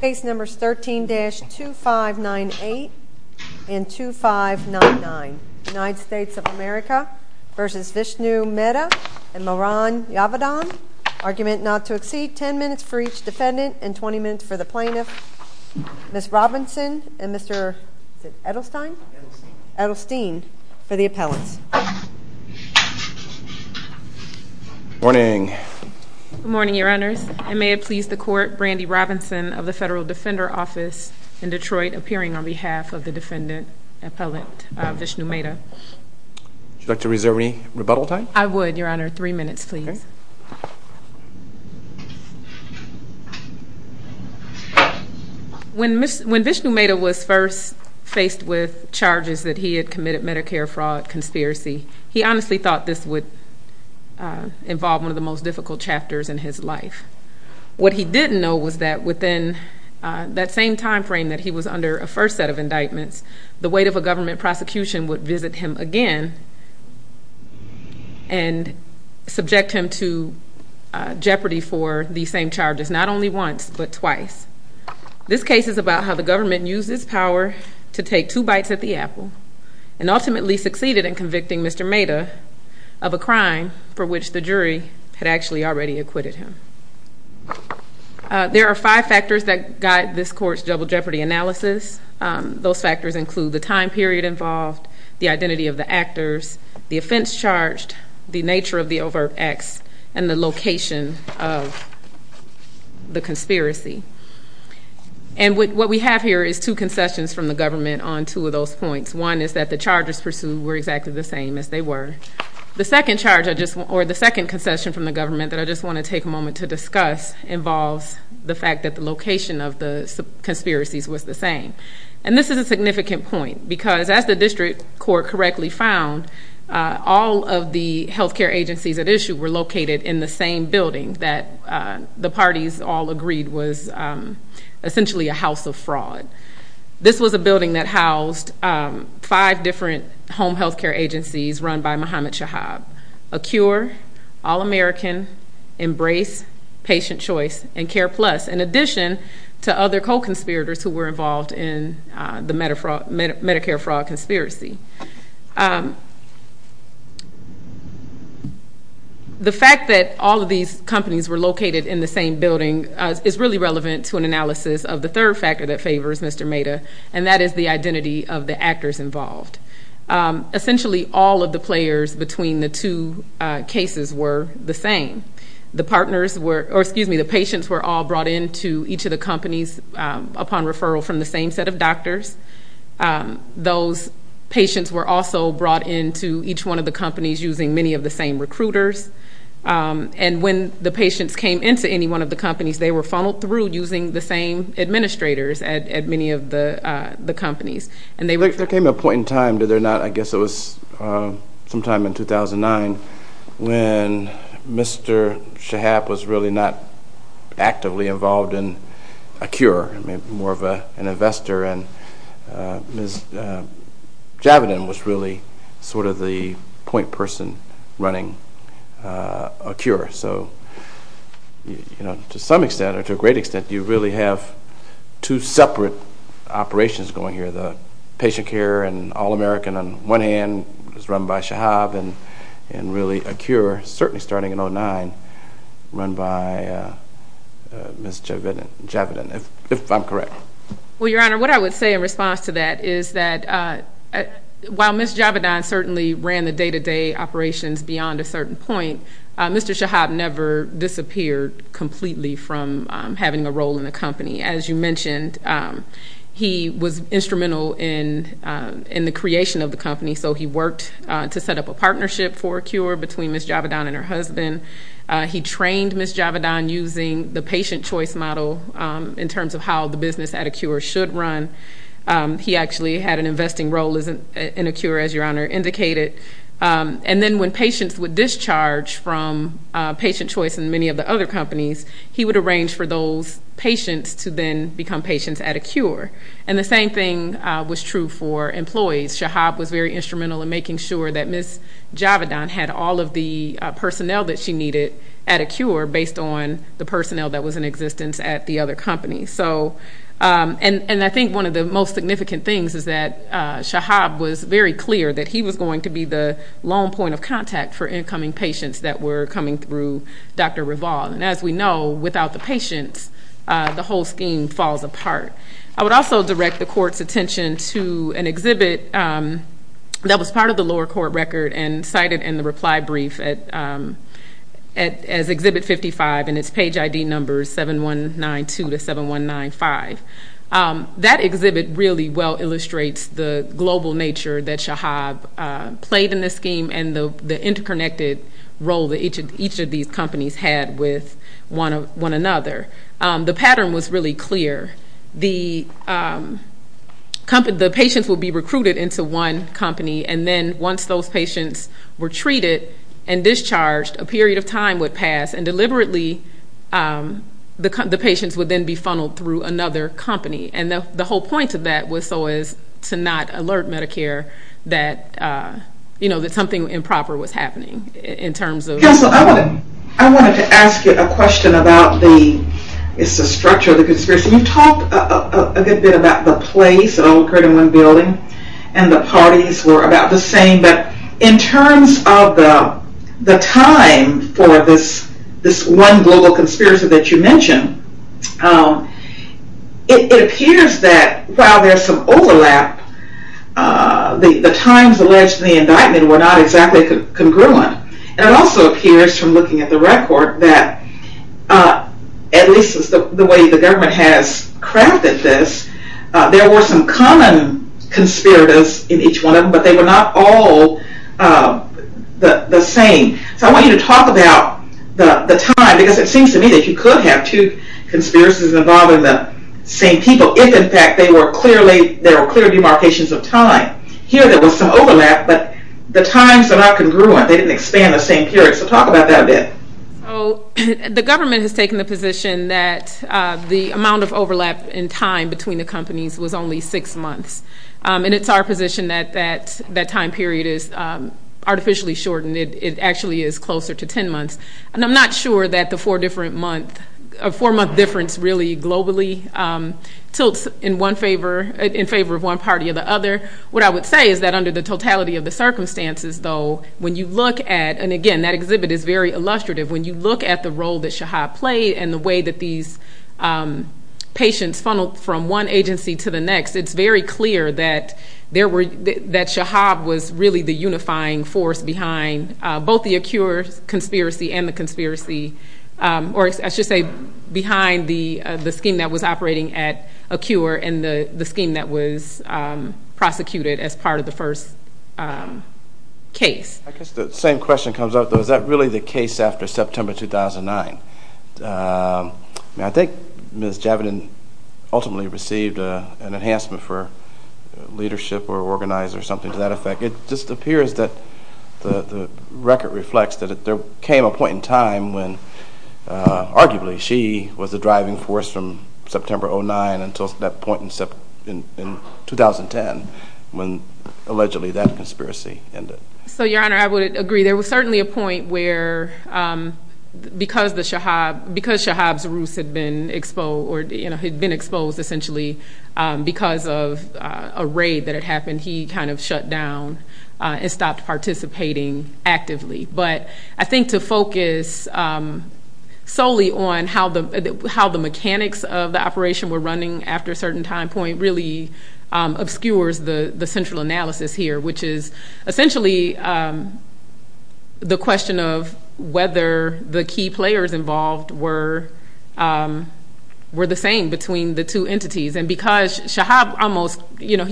Case numbers 13-2598 and 2599. United States of America v. Vishnu Meda and Mehran Javidan. Argument not to exceed 10 minutes for each defendant and 20 minutes for the plaintiff. Ms. Robinson and Mr. Edelstein for the appellants. Good morning. Good morning, your honors. And may it please the court, Brandy Robinson of the Federal Defender Office in Detroit, appearing on behalf of the defendant, Appellant Vishnu Meda. Would you like to reserve any rebuttal time? I would, your honor. Three minutes, please. When Vishnu Meda was first faced with charges that he had committed Medicare fraud conspiracy, he honestly thought this would involve one of the most difficult chapters in his life. What he didn't know was that within that same time frame that he was under a first set of indictments, the weight of a government prosecution would visit him again and subject him to jeopardy for the same charges, not only once but twice. This case is about how the government used its power to take two bites at the apple and ultimately succeeded in convicting Mr. Meda of a crime for which the jury had actually already acquitted him. There are five factors that guide this court's double jeopardy analysis. Those factors include the time period involved, the identity of the actors, the offense charged, the nature of the overt acts, and the location of the conspiracy. And what we have here is two concessions from the government on two of those points. One is that the charges pursued were exactly the same as they were. The second charge or the second concession from the government that I just want to take a moment to discuss involves the fact that the location of the conspiracies was the same. And this is a significant point because as the district court correctly found, all of the health care agencies at issue were located in the same building that the parties all agreed was essentially a house of fraud. This was a building that housed five different home health care agencies run by Muhammad Shahab, Acure, All American, Embrace, Patient Choice, and Care Plus, in addition to other co-conspirators who were involved in the Medicare fraud conspiracy. The fact that all of these companies were located in the same building is really relevant to an analysis of the third factor that favors Mr. Meda, and that is the identity of the actors involved. Essentially, all of the players between the two cases were the same. The patients were all brought into each of the companies upon referral from the same set of doctors. Those patients were also brought into each one of the companies using many of the same recruiters. And when the patients came into any one of the companies, they were funneled through using the same administrators at many of the companies. There came a point in time, I guess it was sometime in 2009, when Mr. Shahab was really not actively involved in Acure, more of an investor, and Ms. Javidan was really sort of the point person running Acure. So, you know, to some extent, or to a great extent, you really have two separate operations going here. The patient care and All American, on one hand, was run by Shahab, and really Acure, certainly starting in 2009, run by Ms. Javidan, if I'm correct. Well, Your Honor, what I would say in response to that is that while Ms. Javidan certainly ran the day-to-day operations beyond a certain point, Mr. Shahab never disappeared completely from having a role in the company. As you mentioned, he was instrumental in the creation of the company, so he worked to set up a partnership for Acure between Ms. Javidan and her husband. He trained Ms. Javidan using the patient choice model in terms of how the business at Acure should run. He actually had an investing role in Acure, as Your Honor indicated. And then when patients would discharge from patient choice in many of the other companies, he would arrange for those patients to then become patients at Acure. And the same thing was true for employees. Shahab was very instrumental in making sure that Ms. Javidan had all of the personnel that she needed at Acure, based on the personnel that was in existence at the other companies. And I think one of the most significant things is that Shahab was very clear that he was going to be the lone point of contact for incoming patients that were coming through Dr. Raval. And as we know, without the patients, the whole scheme falls apart. I would also direct the Court's attention to an exhibit that was part of the lower court record and cited in the reply brief as Exhibit 55, and its page ID number is 7192-7195. That exhibit really well illustrates the global nature that Shahab played in the scheme and the interconnected role that each of these companies had with one another. The pattern was really clear. The patients would be recruited into one company, and then once those patients were treated and discharged, a period of time would pass, and deliberately the patients would then be funneled through another company. And the whole point of that was so as to not alert Medicare that something improper was happening. Counsel, I wanted to ask you a question about the structure of the conspiracy. You talked a good bit about the place, it all occurred in one building, and the parties were about the same, but in terms of the time for this one global conspiracy that you mentioned, it appears that while there's some overlap, the times alleged in the indictment were not exactly congruent. And it also appears from looking at the record that, at least the way the government has crafted this, there were some common conspirators in each one of them, but they were not all the same. So I want you to talk about the time, because it seems to me that you could have two conspirators involved in the same people if, in fact, there were clear demarcations of time. Here there was some overlap, but the times are not congruent. They didn't expand the same period. So talk about that a bit. So the government has taken the position that the amount of overlap in time between the companies was only six months. And it's our position that that time period is artificially shortened. It actually is closer to ten months. And I'm not sure that the four-month difference really globally tilts in favor of one party or the other. What I would say is that under the totality of the circumstances, though, when you look at, and again that exhibit is very illustrative, when you look at the role that Shahab played and the way that these patients funneled from one agency to the next, it's very clear that Shahab was really the unifying force behind both the Acure conspiracy and the conspiracy, or I should say behind the scheme that was operating at Acure and the scheme that was prosecuted as part of the first case. I guess the same question comes up, though. Is that really the case after September 2009? I think Ms. Javidan ultimately received an enhancement for leadership or organized or something to that effect. It just appears that the record reflects that there came a point in time when arguably she was the driving force from September 2009 until that point in 2010 when allegedly that conspiracy ended. So, Your Honor, I would agree. There was certainly a point where because Shahab's ruse had been exposed essentially because of a raid that had happened, he kind of shut down and stopped participating actively. But I think to focus solely on how the mechanics of the operation were running after a certain time point really obscures the central analysis here, which is essentially the question of whether the key players involved were the same between the two entities. And because Shahab almost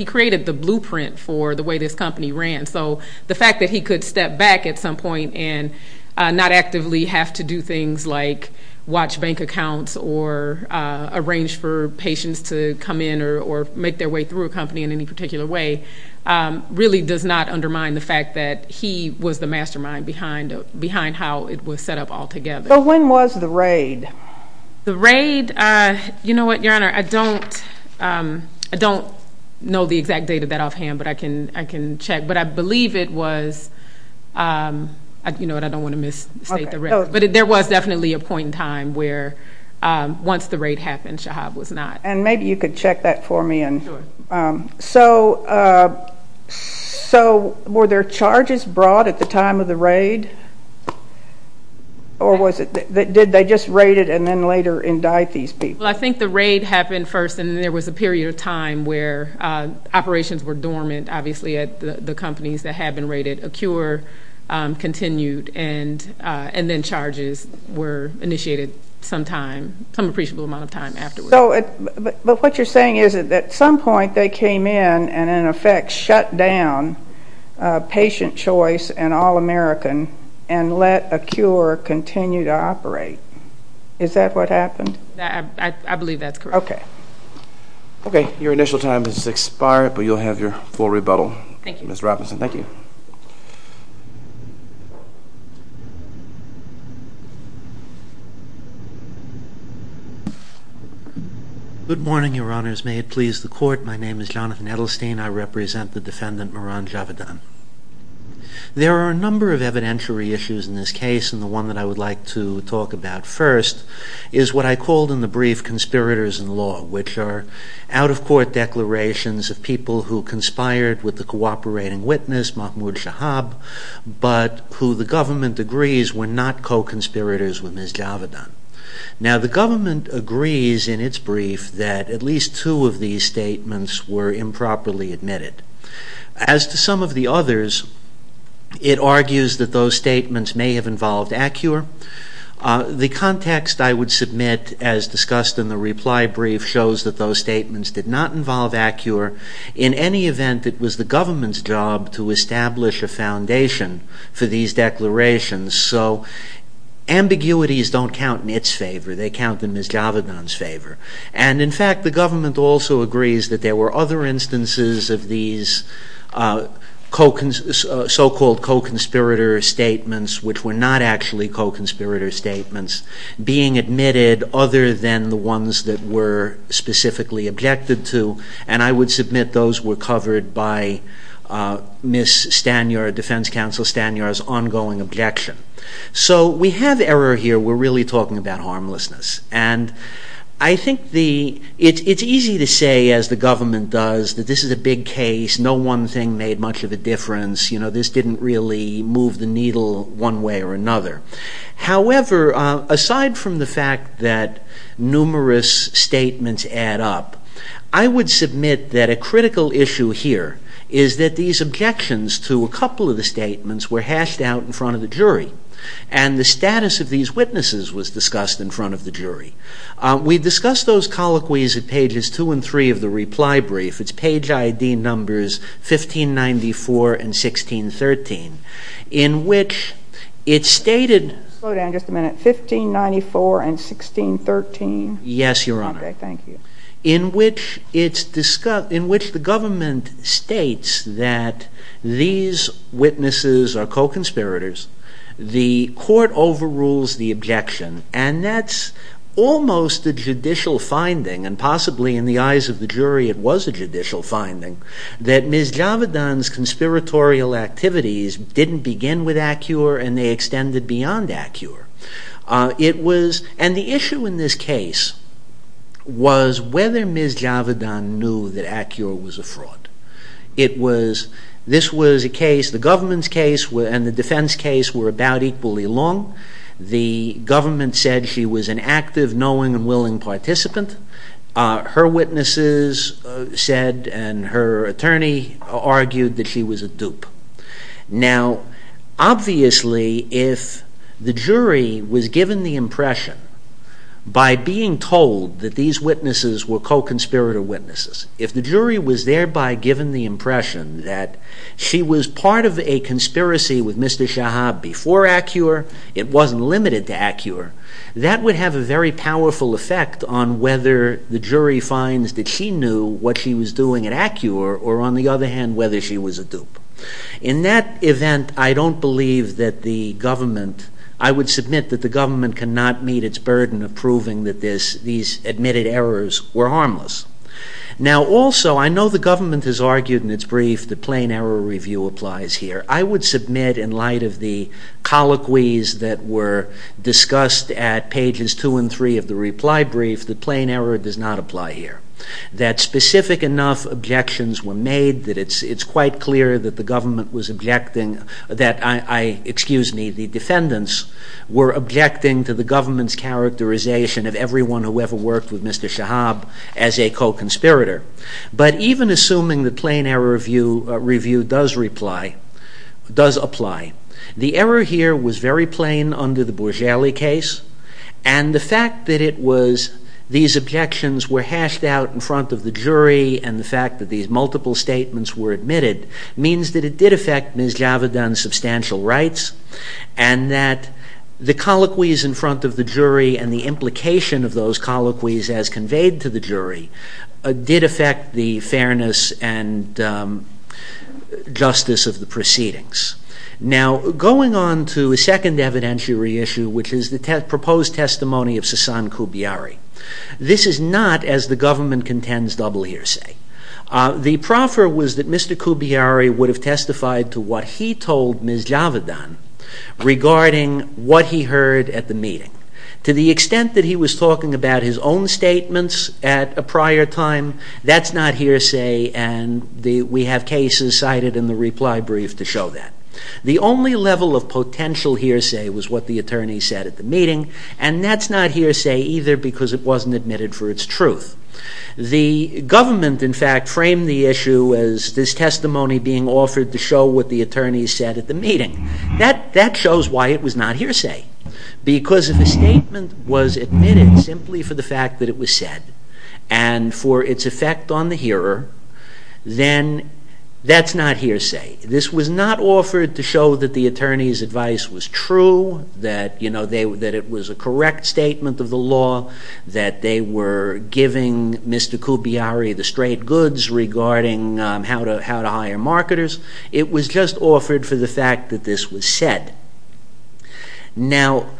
created the blueprint for the way this company ran, so the fact that he could step back at some point and not actively have to do things like watch bank accounts or arrange for patients to come in or make their way through a company in any particular way really does not undermine the fact that he was the mastermind behind how it was set up altogether. So when was the raid? The raid, you know what, Your Honor, I don't know the exact date of that offhand, but I can check. But I believe it was, you know what, I don't want to misstate the record. But there was definitely a point in time where once the raid happened, Shahab was not. And maybe you could check that for me. So were there charges brought at the time of the raid? Or did they just raid it and then later indict these people? Well, I think the raid happened first and then there was a period of time where operations were dormant, obviously at the companies that had been raided. A cure continued and then charges were initiated some time, some appreciable amount of time afterward. But what you're saying is that at some point they came in and, in effect, shut down Patient Choice and All American and let a cure continue to operate. Is that what happened? I believe that's correct. Okay. Okay. Your initial time has expired, but you'll have your full rebuttal. Thank you. Ms. Robinson, thank you. Good morning, Your Honors. May it please the Court, my name is Jonathan Edelstein. I represent the defendant, Mehran Javadan. There are a number of evidentiary issues in this case, and the one that I would like to talk about first is what I called in the brief conspirators in law, which are out-of-court declarations of people who conspired with the cooperating witness, Mahmoud Shahab, but who the government agrees were not co-conspirators with Ms. Javadan. Now, the government agrees in its brief that at least two of these statements were improperly admitted. As to some of the others, it argues that those statements may have involved Acure. The context I would submit as discussed in the reply brief shows that those statements did not involve Acure. In any event, it was the government's job to establish a foundation for these declarations, so ambiguities don't count in its favor, they count in Ms. Javadan's favor. And, in fact, the government also agrees that there were other instances of these so-called co-conspirator statements which were not actually co-conspirator statements being admitted other than the ones that were specifically objected to, and I would submit those were covered by Ms. Stanyard, Defense Counsel Stanyard's ongoing objection. So we have error here, we're really talking about harmlessness. And I think it's easy to say, as the government does, that this is a big case, no one thing made much of a difference, this didn't really move the needle one way or another. However, aside from the fact that numerous statements add up, I would submit that a critical issue here is that these objections to a couple of the statements were hashed out in front of the jury, and the status of these witnesses was discussed in front of the jury. We discussed those colloquies at pages 2 and 3 of the reply brief, it's page ID numbers 1594 and 1613, in which it's stated... Slow down just a minute, 1594 and 1613? Yes, Your Honor. Okay, thank you. In which the government states that these witnesses are co-conspirators, the court overrules the objection, and that's almost a judicial finding, and possibly in the eyes of the jury it was a judicial finding, that Ms. Javedan's conspiratorial activities didn't begin with Acure and they extended beyond Acure. And the issue in this case was whether Ms. Javedan knew that Acure was a fraud. This was a case, the government's case and the defense case were about equally long, the government said she was an active, knowing and willing participant, her witnesses said and her attorney argued that she was a dupe. Now, obviously if the jury was given the impression by being told that these witnesses were co-conspirator witnesses, if the jury was thereby given the impression that she was part of a conspiracy with Mr. Shahab before Acure, it wasn't limited to Acure, that would have a very powerful effect on whether the jury finds that she knew what she was doing at Acure or, on the other hand, whether she was a dupe. In that event, I don't believe that the government, I would submit that the government cannot meet its burden of proving that these admitted errors were harmless. Now, also, I know the government has argued in its brief that plain error review applies here. I would submit in light of the colloquies that were discussed at pages two and three of the reply brief that plain error does not apply here. That specific enough objections were made that it's quite clear that the government was objecting, that the defendants were objecting to the government's characterization of everyone who ever worked with Mr. Shahab as a co-conspirator. But even assuming the plain error review does apply, the error here was very plain under the Borgelli case and the fact that these objections were hashed out in front of the jury and the fact that these multiple statements were admitted means that it did affect Ms. Javidan's substantial rights and that the colloquies in front of the jury and the implication of those colloquies as conveyed to the jury did affect the fairness and justice of the proceedings. Now, going on to a second evidentiary issue, which is the proposed testimony of Sassan Koubiari. This is not, as the government contends, double hearsay. The proffer was that Mr. Koubiari would have testified to what he told Ms. Javidan regarding what he heard at the meeting. To the extent that he was talking about his own statements at a prior time, that's not hearsay and we have cases cited in the reply brief to show that. The only level of potential hearsay was what the attorney said at the meeting and that's not hearsay either because it wasn't admitted for its truth. The government, in fact, framed the issue as this testimony being offered to show what the attorney said at the meeting. That shows why it was not hearsay. Because if a statement was admitted simply for the fact that it was said and for its effect on the hearer, then that's not hearsay. This was not offered to show that the attorney's advice was true, that it was a correct statement of the law, that they were giving Mr. Koubiari the straight goods regarding how to hire marketers. It was just offered for the fact that this was said. Now,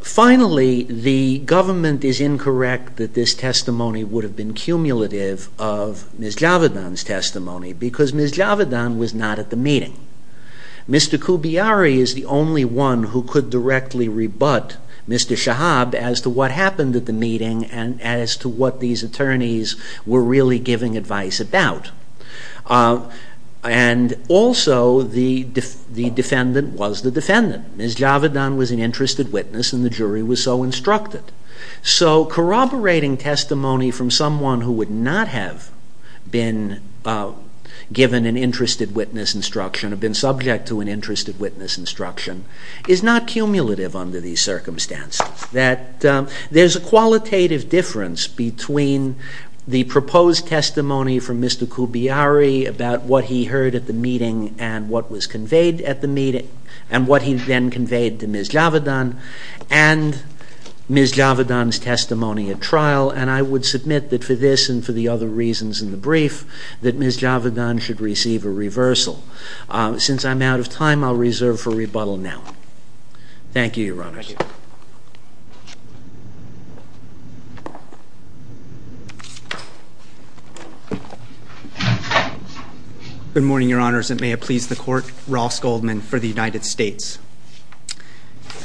finally, the government is incorrect that this testimony would have been cumulative of Ms. Javidan's testimony because Ms. Javidan was not at the meeting. Mr. Koubiari is the only one who could directly rebut Mr. Shahab as to what happened at the meeting and as to what these attorneys were really giving advice about. And also the defendant was the defendant. Ms. Javidan was an interested witness and the jury was so instructed. So corroborating testimony from someone who would not have been given an interested witness instruction or been subject to an interested witness instruction is not cumulative under these circumstances. There's a qualitative difference between the proposed testimony from Mr. Koubiari about what he heard at the meeting and what was conveyed at the meeting and what he then conveyed to Ms. Javidan and Ms. Javidan's testimony at trial. And I would submit that for this and for the other reasons in the brief, that Ms. Javidan should receive a reversal. Since I'm out of time, I'll reserve for rebuttal now. Thank you, Your Honors. Good morning, Your Honors, and may it please the Court. Ross Goldman for the United States.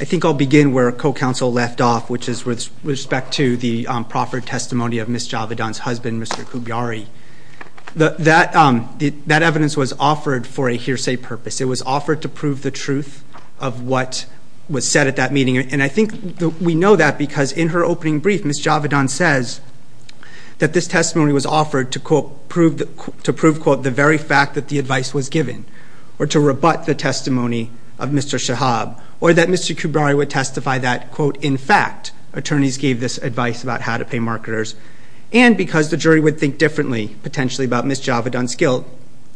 I think I'll begin where a co-counsel left off, which is with respect to the proffered testimony of Ms. Javidan's husband, Mr. Koubiari. That evidence was offered for a hearsay purpose. It was offered to prove the truth of what was said at that meeting. And I think we know that because in her opening brief, Ms. Javidan says that this testimony was offered to prove, quote, the very fact that the advice was given or to rebut the testimony of Mr. Shahab or that Mr. Koubiari would testify that, quote, in fact attorneys gave this advice about how to pay marketers and because the jury would think differently, potentially, about Ms. Javidan's guilt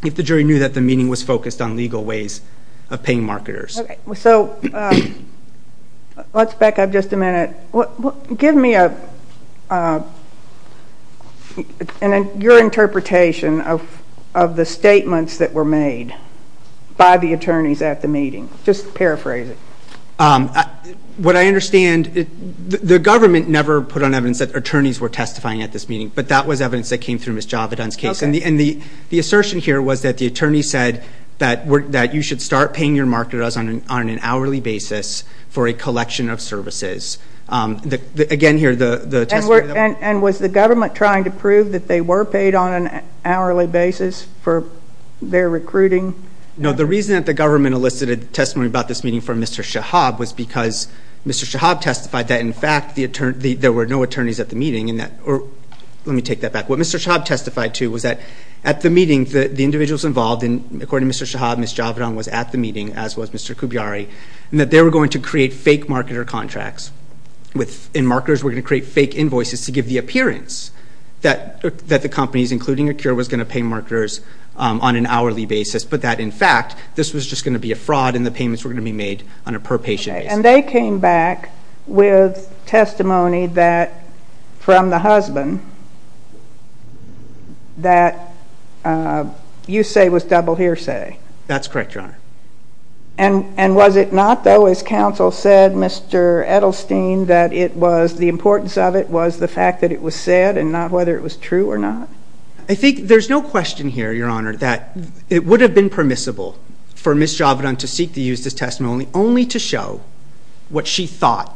if the jury knew that the meeting was focused on legal ways of paying marketers. So let's back up just a minute. Give me your interpretation of the statements that were made by the attorneys at the meeting. Just paraphrase it. What I understand, the government never put on evidence that attorneys were testifying at this meeting, but that was evidence that came through Ms. Javidan's case. Okay. And the assertion here was that the attorney said that you should start paying your marketers on an hourly basis for a collection of services. Again, here, the testimony that was- And was the government trying to prove that they were paid on an hourly basis for their recruiting? No. The reason that the government elicited testimony about this meeting from Mr. Shahab was because Mr. Shahab testified that, in fact, there were no attorneys at the meeting. Let me take that back. What Mr. Shahab testified to was that, at the meeting, the individuals involved, according to Mr. Shahab, Ms. Javidan was at the meeting, as was Mr. Koubiary, and that they were going to create fake marketer contracts, and marketers were going to create fake invoices to give the appearance that the companies, including Acura, was going to pay marketers on an hourly basis, but that, in fact, this was just going to be a fraud and the payments were going to be made on a per-patient basis. And they came back with testimony from the husband that you say was double hearsay. That's correct, Your Honor. And was it not, though, as counsel said, Mr. Edelstein, that the importance of it was the fact that it was said and not whether it was true or not? I think there's no question here, Your Honor, that it would have been permissible for Ms. Javidan to seek to use this testimony only to show what she thought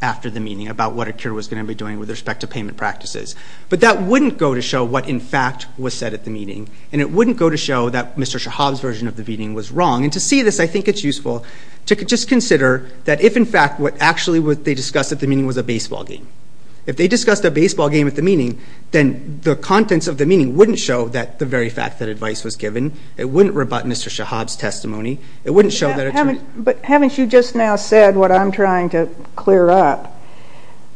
after the meeting about what Acura was going to be doing with respect to payment practices. But that wouldn't go to show what, in fact, was said at the meeting, and it wouldn't go to show that Mr. Shahab's version of the meeting was wrong. And to see this, I think it's useful to just consider that if, in fact, what actually they discussed at the meeting was a baseball game. If they discussed a baseball game at the meeting, then the contents of the meeting wouldn't show the very fact that advice was given. It wouldn't rebut Mr. Shahab's testimony. It wouldn't show that it's true. But haven't you just now said what I'm trying to clear up?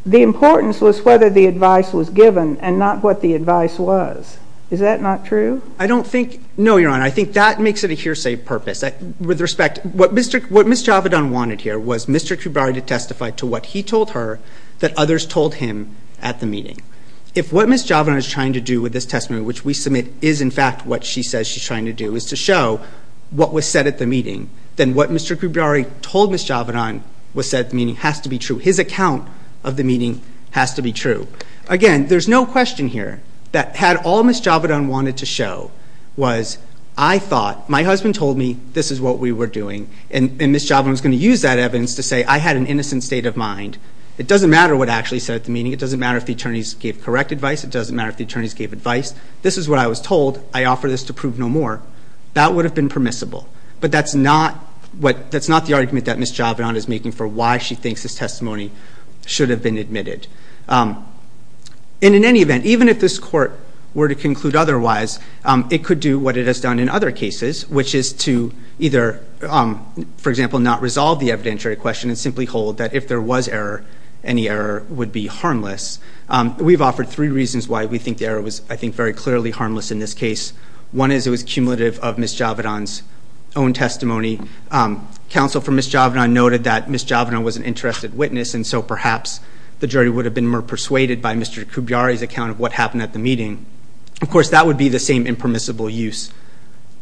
The importance was whether the advice was given and not what the advice was. Is that not true? I don't think – no, Your Honor. I think that makes it a hearsay purpose. With respect, what Ms. Javidan wanted here was Mr. Kubari to testify to what he told her that others told him at the meeting. If what Ms. Javidan is trying to do with this testimony, which we submit is, in fact, what she says she's trying to do, is to show what was said at the meeting, then what Mr. Kubari told Ms. Javidan was said at the meeting has to be true. His account of the meeting has to be true. Again, there's no question here that had all Ms. Javidan wanted to show was, I thought, my husband told me this is what we were doing, and Ms. Javidan was going to use that evidence to say I had an innocent state of mind. It doesn't matter what actually said at the meeting. It doesn't matter if the attorneys gave correct advice. It doesn't matter if the attorneys gave advice. This is what I was told. I offer this to prove no more. That would have been permissible, but that's not the argument that Ms. Javidan is making for why she thinks this testimony should have been admitted. In any event, even if this court were to conclude otherwise, it could do what it has done in other cases, which is to either, for example, not resolve the evidentiary question and simply hold that if there was error, any error would be harmless. We've offered three reasons why we think the error was, I think, very clearly harmless in this case. One is it was cumulative of Ms. Javidan's own testimony. Counsel for Ms. Javidan noted that Ms. Javidan was an interested witness, and so perhaps the jury would have been more persuaded by Mr. Koubiary's account of what happened at the meeting. Of course, that would be the same impermissible use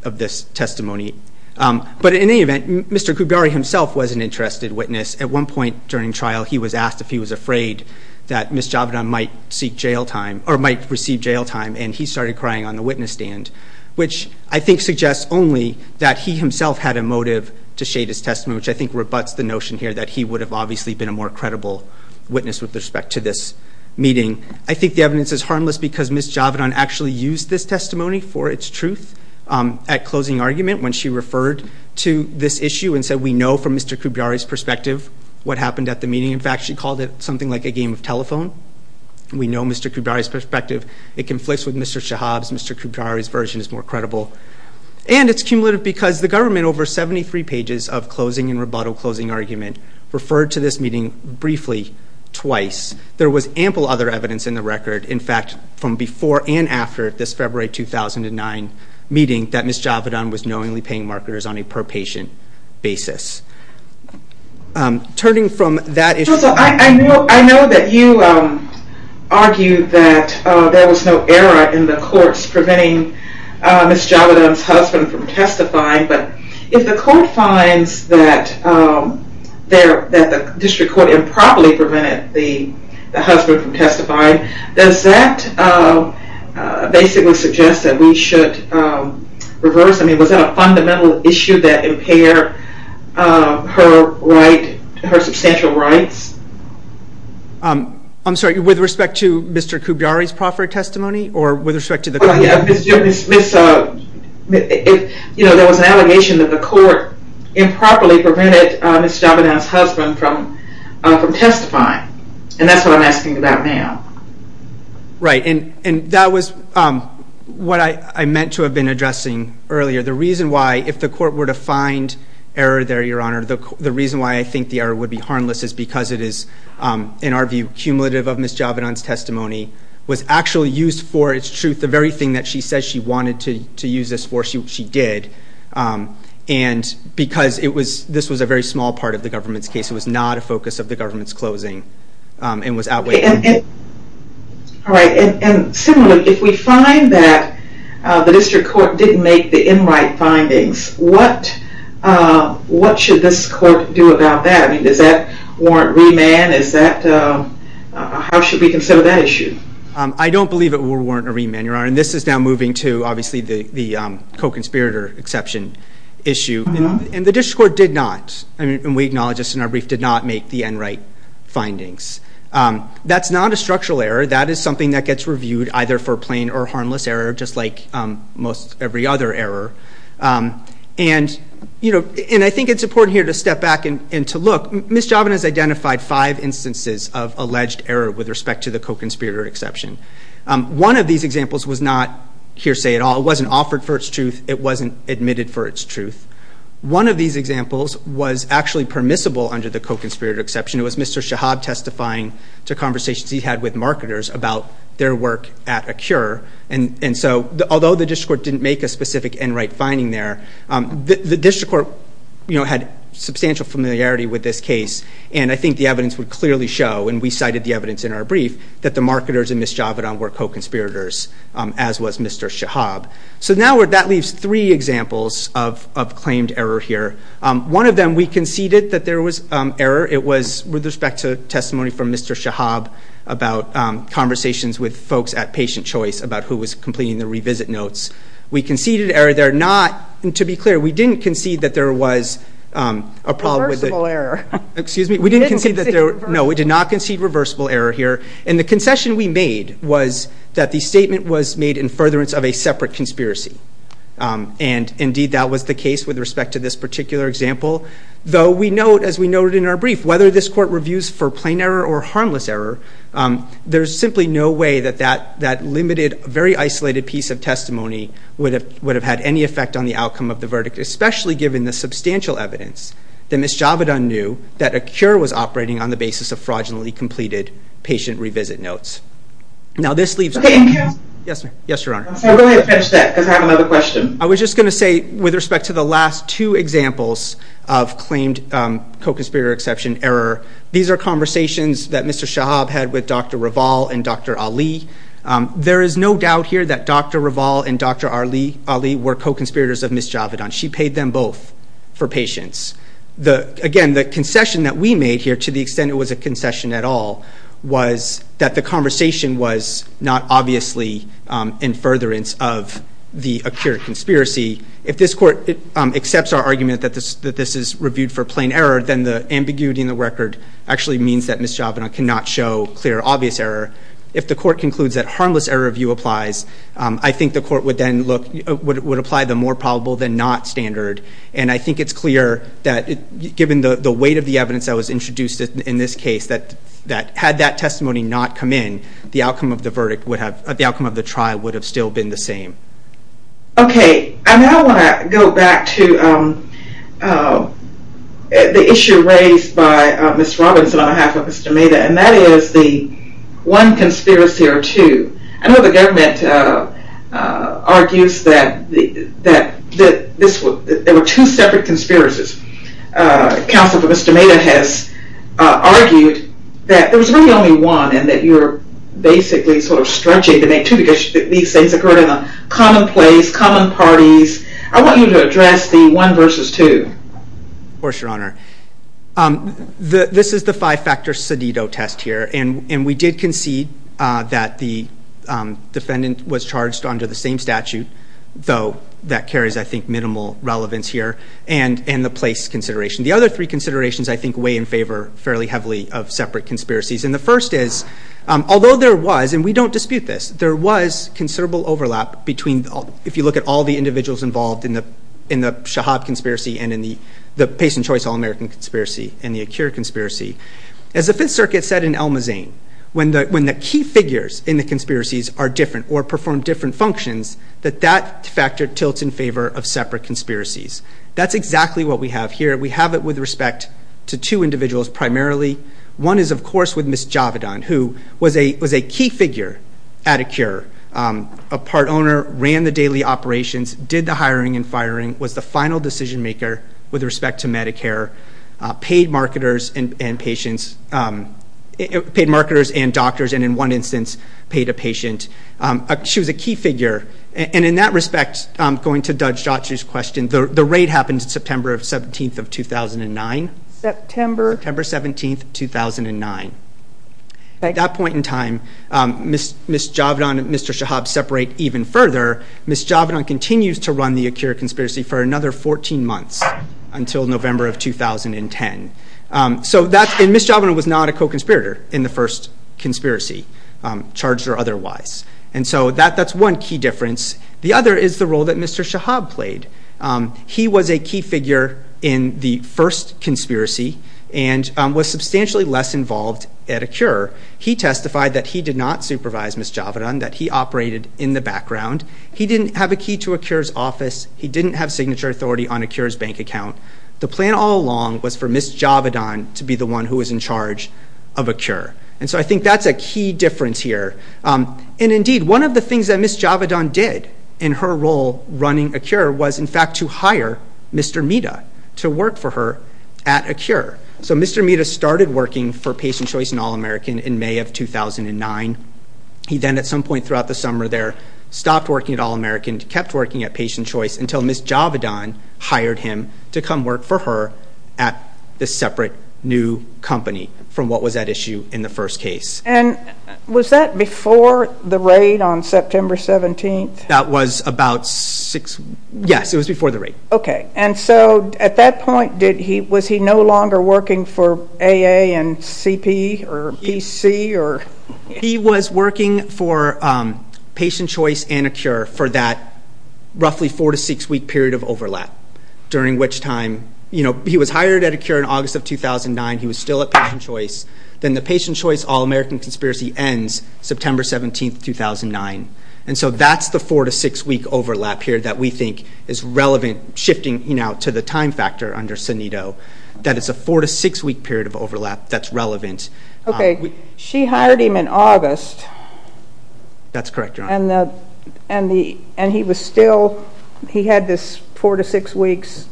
of this testimony. But in any event, Mr. Koubiary himself was an interested witness. At one point during trial, he was asked if he was afraid that Ms. Javidan might seek jail time or might receive jail time, and he started crying on the witness stand, which I think suggests only that he himself had a motive to shade his testimony, which I think rebuts the notion here that he would have obviously been a more credible witness with respect to this meeting. I think the evidence is harmless because Ms. Javidan actually used this testimony for its truth at closing argument when she referred to this issue and said, we know from Mr. Koubiary's perspective what happened at the meeting. In fact, she called it something like a game of telephone. We know Mr. Koubiary's perspective. It conflicts with Mr. Shahab's. Mr. Koubiary's version is more credible. And it's cumulative because the government, over 73 pages of closing and rebuttal closing argument, referred to this meeting briefly twice. There was ample other evidence in the record, in fact, from before and after this February 2009 meeting that Ms. Javidan was knowingly paying marketers on a per-patient basis. Turning from that issue. I know that you argued that there was no error in the courts preventing Ms. Javidan's husband from testifying, but if the court finds that the district court improperly prevented the husband from testifying, does that basically suggest that we should reverse? I mean, was that a fundamental issue that impaired her right, her substantial rights? I'm sorry, with respect to Mr. Koubiary's proffer testimony or with respect to the court? There was an allegation that the court improperly prevented Ms. Javidan's husband from testifying, and that's what I'm asking about now. Right, and that was what I meant to have been addressing earlier. The reason why, if the court were to find error there, Your Honor, the reason why I think the error would be harmless is because it is, in our view, cumulative of Ms. Javidan's testimony, was actually used for, it's true, the very thing that she said she wanted to use this for, she did, and because this was a very small part of the government's case. It was not a focus of the government's closing and was outweighed. All right, and similarly, if we find that the district court didn't make the in-right findings, what should this court do about that? I mean, does that warrant remand? How should we consider that issue? I don't believe it will warrant a remand, Your Honor, and this is now moving to, obviously, the co-conspirator exception issue, and the district court did not, and we acknowledge this in our brief, did not make the in-right findings. That's not a structural error. That is something that gets reviewed either for plain or harmless error, just like most every other error, and I think it's important here to step back and to look. Ms. Javidan has identified five instances of alleged error with respect to the co-conspirator exception. One of these examples was not hearsay at all. It wasn't offered for its truth. It wasn't admitted for its truth. One of these examples was actually permissible under the co-conspirator exception. It was Mr. Shahab testifying to conversations he had with marketers about their work at Acure, and so although the district court didn't make a specific in-right finding there, the district court had substantial familiarity with this case, and I think the evidence would clearly show, and we cited the evidence in our brief, that the marketers and Ms. Javidan were co-conspirators, as was Mr. Shahab. So now that leaves three examples of claimed error here. One of them, we conceded that there was error. It was with respect to testimony from Mr. Shahab about conversations with folks at Patient Choice about who was completing the revisit notes. We conceded error there. To be clear, we didn't concede that there was a problem with it. Reversible error. No, we did not concede reversible error here, and the concession we made was that the statement was made in furtherance of a separate conspiracy, and indeed that was the case with respect to this particular example, though we note, as we noted in our brief, whether this court reviews for plain error or harmless error, there is simply no way that that limited, very isolated piece of testimony would have had any effect on the outcome of the verdict, especially given the substantial evidence that Ms. Javedan knew that a cure was operating on the basis of fraudulently completed patient revisit notes. Now this leaves... Thank you. Yes, ma'am. Yes, Your Honor. Go ahead and finish that, because I have another question. I was just going to say, with respect to the last two examples of claimed co-conspirator exception error, these are conversations that Mr. Shahab had with Dr. Raval and Dr. Ali. There is no doubt here that Dr. Raval and Dr. Ali were co-conspirators of Ms. Javedan. She paid them both for patients. Again, the concession that we made here, to the extent it was a concession at all, was that the conversation was not obviously in furtherance of the accurate conspiracy. If this court accepts our argument that this is reviewed for plain error, then the ambiguity in the record actually means that Ms. Javedan cannot show clear, obvious error. If the court concludes that harmless error review applies, I think the court would then look... would apply the more probable than not standard. And I think it's clear that, given the weight of the evidence that was introduced in this case, that had that testimony not come in, the outcome of the verdict would have... the outcome of the trial would have still been the same. Okay. I now want to go back to the issue raised by Ms. Robinson on behalf of Mr. Maida, and that is the one conspiracy or two. I know the government argues that there were two separate conspiracies. Counsel for Mr. Maida has argued that there was really only one, and that you're basically sort of stretching to make two, because these things occurred in a common place, common parties. I want you to address the one versus two. Of course, Your Honor. This is the five-factor Cedido test here, and we did concede that the defendant was charged under the same statute, though that carries, I think, minimal relevance here, and the place consideration. The other three considerations, I think, weigh in favor fairly heavily of separate conspiracies. And the first is, although there was, and we don't dispute this, there was considerable overlap between... if you look at all the individuals involved in the Shahab conspiracy and in the Pace and Choice All-American conspiracy and the Akir conspiracy. As the Fifth Circuit said in Almazen, when the key figures in the conspiracies are different or perform different functions, that that factor tilts in favor of separate conspiracies. That's exactly what we have here. We have it with respect to two individuals primarily. One is, of course, with Ms. Javedan, who was a key figure at Akir, a part owner, ran the daily operations, did the hiring and firing, was the final decision-maker with respect to Medicare, paid marketers and patients... paid marketers and doctors, and in one instance, paid a patient. She was a key figure. And in that respect, going to Dajjadji's question, the raid happened September 17, 2009. September? September 17, 2009. At that point in time, Ms. Javedan and Mr. Shahab separate even further. Ms. Javedan continues to run the Akir conspiracy for another 14 months until November of 2010. And Ms. Javedan was not a co-conspirator in the first conspiracy, charged or otherwise. And so that's one key difference. The other is the role that Mr. Shahab played. He was a key figure in the first conspiracy and was substantially less involved at Akir. He testified that he did not supervise Ms. Javedan, He didn't have a key to Akir's office. He didn't have signature authority on Akir's bank account. The plan all along was for Ms. Javedan to be the one who was in charge of Akir. And so I think that's a key difference here. And indeed, one of the things that Ms. Javedan did in her role running Akir was in fact to hire Mr. Mehta to work for her at Akir. So Mr. Mehta started working for Patient Choice and All-American in May of 2009. He then at some point throughout the summer there stopped working at All-American, kept working at Patient Choice, until Ms. Javedan hired him to come work for her at this separate new company from what was at issue in the first case. And was that before the raid on September 17th? That was about six... Yes, it was before the raid. Okay, and so at that point, was he no longer working for AA and CP or PC? He was working for Patient Choice and Akir for that roughly four-to-six-week period of overlap, during which time... He was hired at Akir in August of 2009. He was still at Patient Choice. Then the Patient Choice-All-American conspiracy ends September 17th, 2009. And so that's the four-to-six-week overlap here that we think is relevant, shifting to the time factor under Sanito, that it's a four-to-six-week period of overlap that's relevant. Okay, she hired him in August. That's correct, Your Honor. And he was still... He had this four-to-six weeks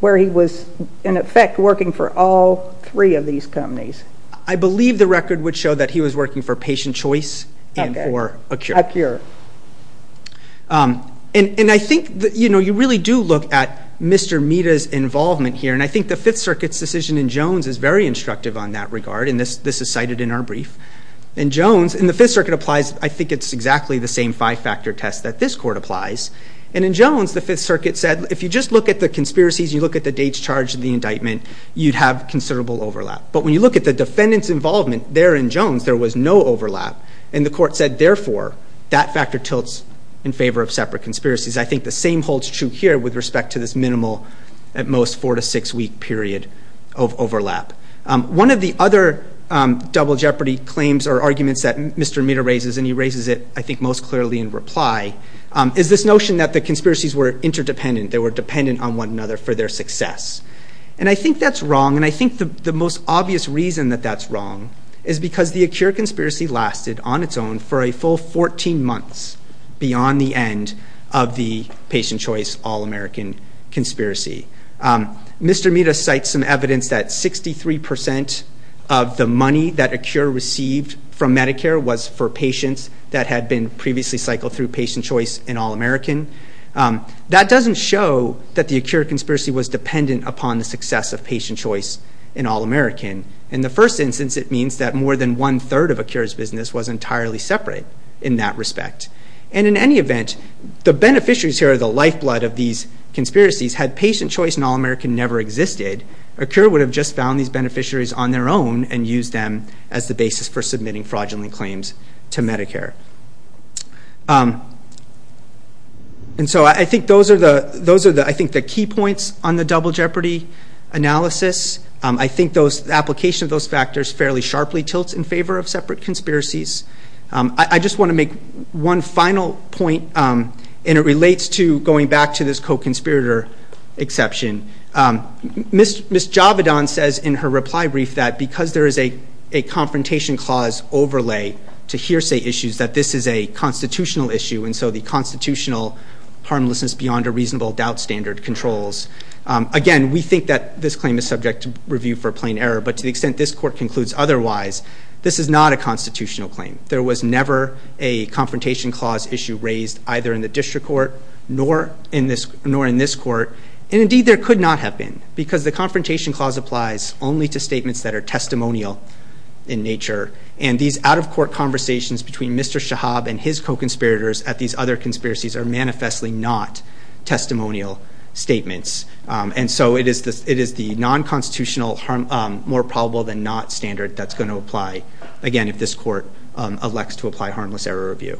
where he was, in effect, working for all three of these companies. I believe the record would show that he was working for Patient Choice and for Akir. Akir. And I think, you know, you really do look at Mr. Mita's involvement here, and I think the Fifth Circuit's decision in Jones is very instructive on that regard, and this is cited in our brief. In Jones, and the Fifth Circuit applies... I think it's exactly the same five-factor test that this Court applies. And in Jones, the Fifth Circuit said, if you just look at the conspiracies, you look at the dates charged in the indictment, you'd have considerable overlap. But when you look at the defendant's involvement there in Jones, there was no overlap, and the Court said, therefore, that factor tilts in favor of separate conspiracies. I think the same holds true here with respect to this minimal, at most, four-to-six-week period of overlap. One of the other double jeopardy claims or arguments that Mr. Mita raises, and he raises it, I think, most clearly in reply, is this notion that the conspiracies were interdependent, they were dependent on one another for their success. And I think that's wrong, and I think the most obvious reason that that's wrong is because the Akir conspiracy lasted, on its own, for a full 14 months beyond the end of the Patient Choice All-American conspiracy. Mr. Mita cites some evidence that 63% of the money that Akir received from Medicare was for patients that had been previously cycled through Patient Choice and All-American. That doesn't show that the Akir conspiracy was dependent upon the success of Patient Choice and All-American. In the first instance, it means that more than one-third of Akir's business was entirely separate in that respect. And in any event, the beneficiaries here, the lifeblood of these conspiracies, had Patient Choice and All-American never existed, Akir would have just found these beneficiaries on their own and used them as the basis for submitting fraudulent claims to Medicare. And so I think those are the key points on the double jeopardy analysis. I think the application of those factors fairly sharply tilts in favor of separate conspiracies. I just want to make one final point, and it relates to going back to this co-conspirator exception. Ms. Javidon says in her reply brief that because there is a confrontation clause overlay to hearsay issues, that this is a constitutional issue, and so the constitutional harmlessness beyond a reasonable doubt standard controls. Again, we think that this claim is subject to review for plain error, but to the extent this Court concludes otherwise, this is not a constitutional claim. There was never a confrontation clause issue raised either in the District Court nor in this Court, and indeed there could not have been, because the confrontation clause applies only to statements that are testimonial in nature, and these out-of-court conversations between Mr. Shahab and his co-conspirators at these other conspiracies are manifestly not testimonial statements. And so it is the non-constitutional, more probable-than-not standard that's going to apply, again, if this Court elects to apply harmless error review.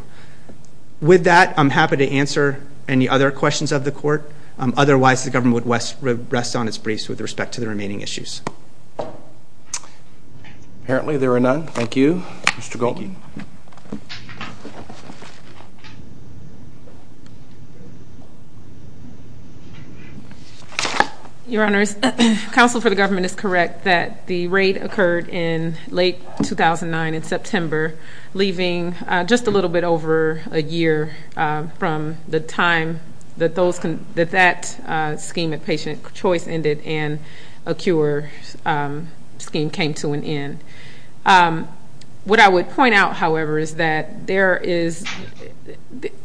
With that, I'm happy to answer any other questions of the Court. Otherwise, the government would rest on its briefs with respect to the remaining issues. Apparently there are none. Thank you. Mr. Goldstein. Your Honors, counsel for the government is correct that the raid occurred in late 2009 in September, leaving just a little bit over a year from the time that that scheme of patient choice ended and a cure scheme came to an end. What I would point out, however, is that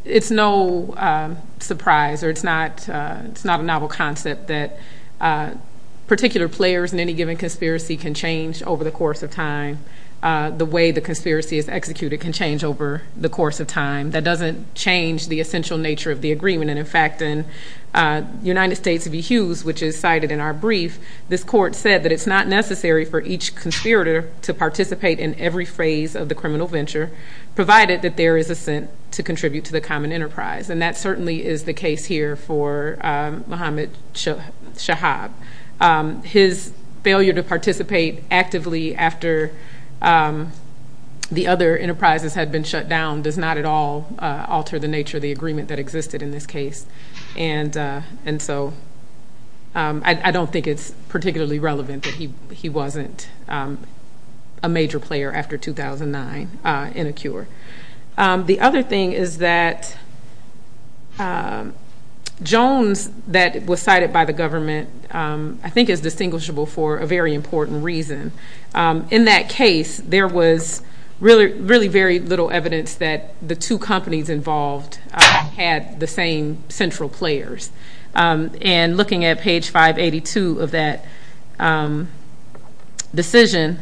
it's no surprise, or it's not a novel concept, that particular players in any given conspiracy can change over the course of time. The way the conspiracy is executed can change over the course of time. That doesn't change the essential nature of the agreement. And, in fact, in United States v. Hughes, which is cited in our brief, this Court said that it's not necessary for each conspirator to participate in every phase of the criminal venture, provided that there is assent to contribute to the common enterprise. And that certainly is the case here for Mohammad Shahab. His failure to participate actively after the other enterprises had been shut down does not at all alter the nature of the agreement that existed in this case. And so I don't think it's particularly relevant that he wasn't a major player after 2009 in a cure. The other thing is that Jones, that was cited by the government, I think is distinguishable for a very important reason. In that case, there was really very little evidence that the two companies involved had the same central players. And looking at page 582 of that decision,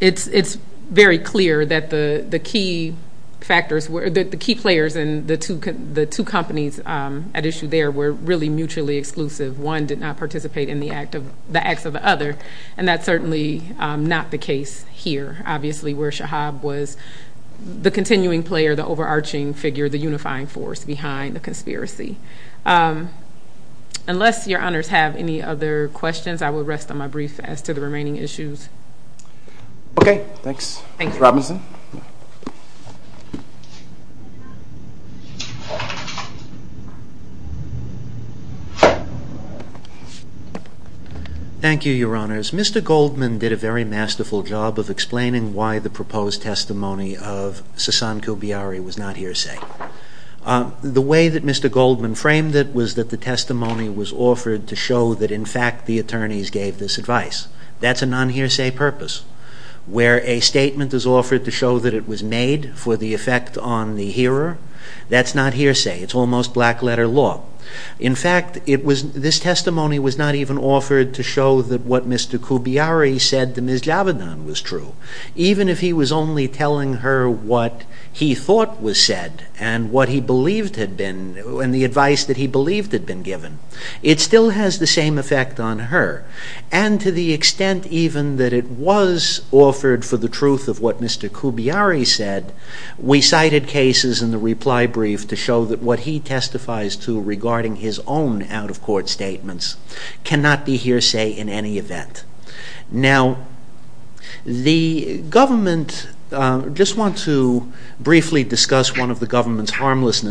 it's very clear that the key players and the two companies at issue there were really mutually exclusive. One did not participate in the acts of the other, and that's certainly not the case here, obviously, where Shahab was the continuing player, the overarching figure, the unifying force behind the conspiracy. Unless your honors have any other questions, I will rest on my brief as to the remaining issues. Okay, thanks. Ms. Robinson. Thank you, your honors. Mr. Goldman did a very masterful job of explaining why the proposed testimony of Sassan Koubiary was not hearsay. The way that Mr. Goldman framed it was that the testimony was offered to show that, in fact, the attorneys gave this advice. That's a non-hearsay purpose. Where a statement is offered to show that it was made for the effect on the hearer, that's not hearsay. It's almost black-letter law. In fact, this testimony was not even offered to show that what Mr. Koubiary said to Ms. Javedan was true. Even if he was only telling her what he thought was said and the advice that he believed had been given, it still has the same effect on her. And to the extent even that it was offered for the truth of what Mr. Koubiary said, we cited cases in the reply brief to show that what he testifies to regarding his own out-of-court statements cannot be hearsay in any event. Now, the government... I just want to briefly discuss one of the government's that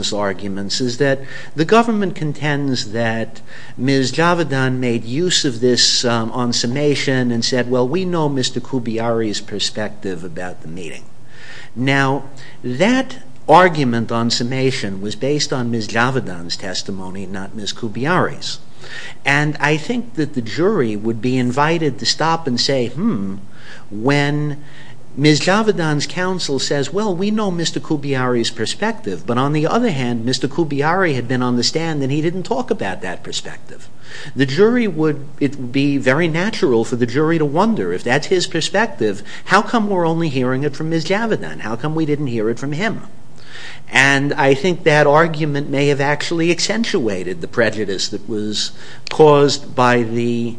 Ms. Javedan made use of this on summation and said, well, we know Mr. Koubiary's perspective about the meeting. Now, that argument on summation was based on Ms. Javedan's testimony, not Ms. Koubiary's. And I think that the jury would be invited to stop and say, hmm, when Ms. Javedan's counsel says, well, we know Mr. Koubiary's perspective, but on the other hand, Mr. Koubiary had been on the stand and he didn't talk about that perspective. The jury would... it would be very natural for the jury to wonder, if that's his perspective, how come we're only hearing it from Ms. Javedan? How come we didn't hear it from him? And I think that argument may have actually accentuated the prejudice that was caused by the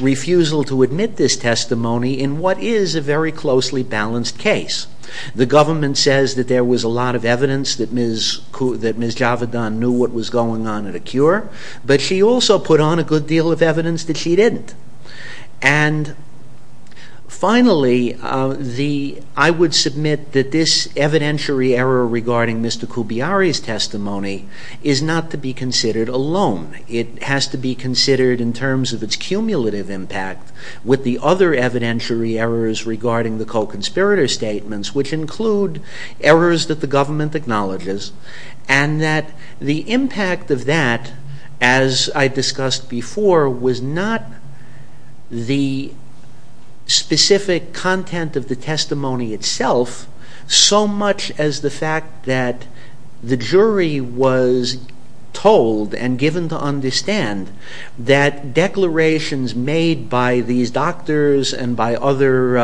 refusal to admit this testimony in what is a very closely balanced case. The government says that there was a lot of evidence that Ms. Javedan knew what was going on in a cure, but she also put on a good deal of evidence that she didn't. And finally, I would submit that this evidentiary error regarding Mr. Koubiary's testimony is not to be considered alone. It has to be considered in terms of its cumulative impact with the other evidentiary errors regarding the co-conspirator statements, which include errors that the government acknowledges, and that the impact of that, as I discussed before, was not the specific content of the testimony itself, so much as the fact that the jury was told and given to understand that declarations made by these doctors and by other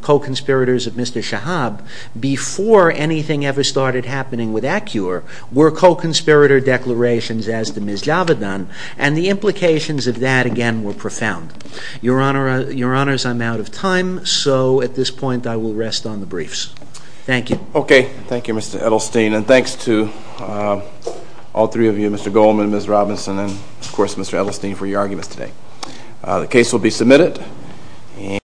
co-conspirators of Mr. Shahab before anything ever started happening with ACCURE were co-conspirator declarations as to Ms. Javedan, and the implications of that, again, were profound. Your Honors, I'm out of time, so at this point I will rest on the briefs. Thank you. Okay. Thank you, Mr. Edelstein. And thanks to all three of you, Mr. Goldman, Ms. Robinson, and of course Mr. Edelstein, for your arguments today. The case will be submitted.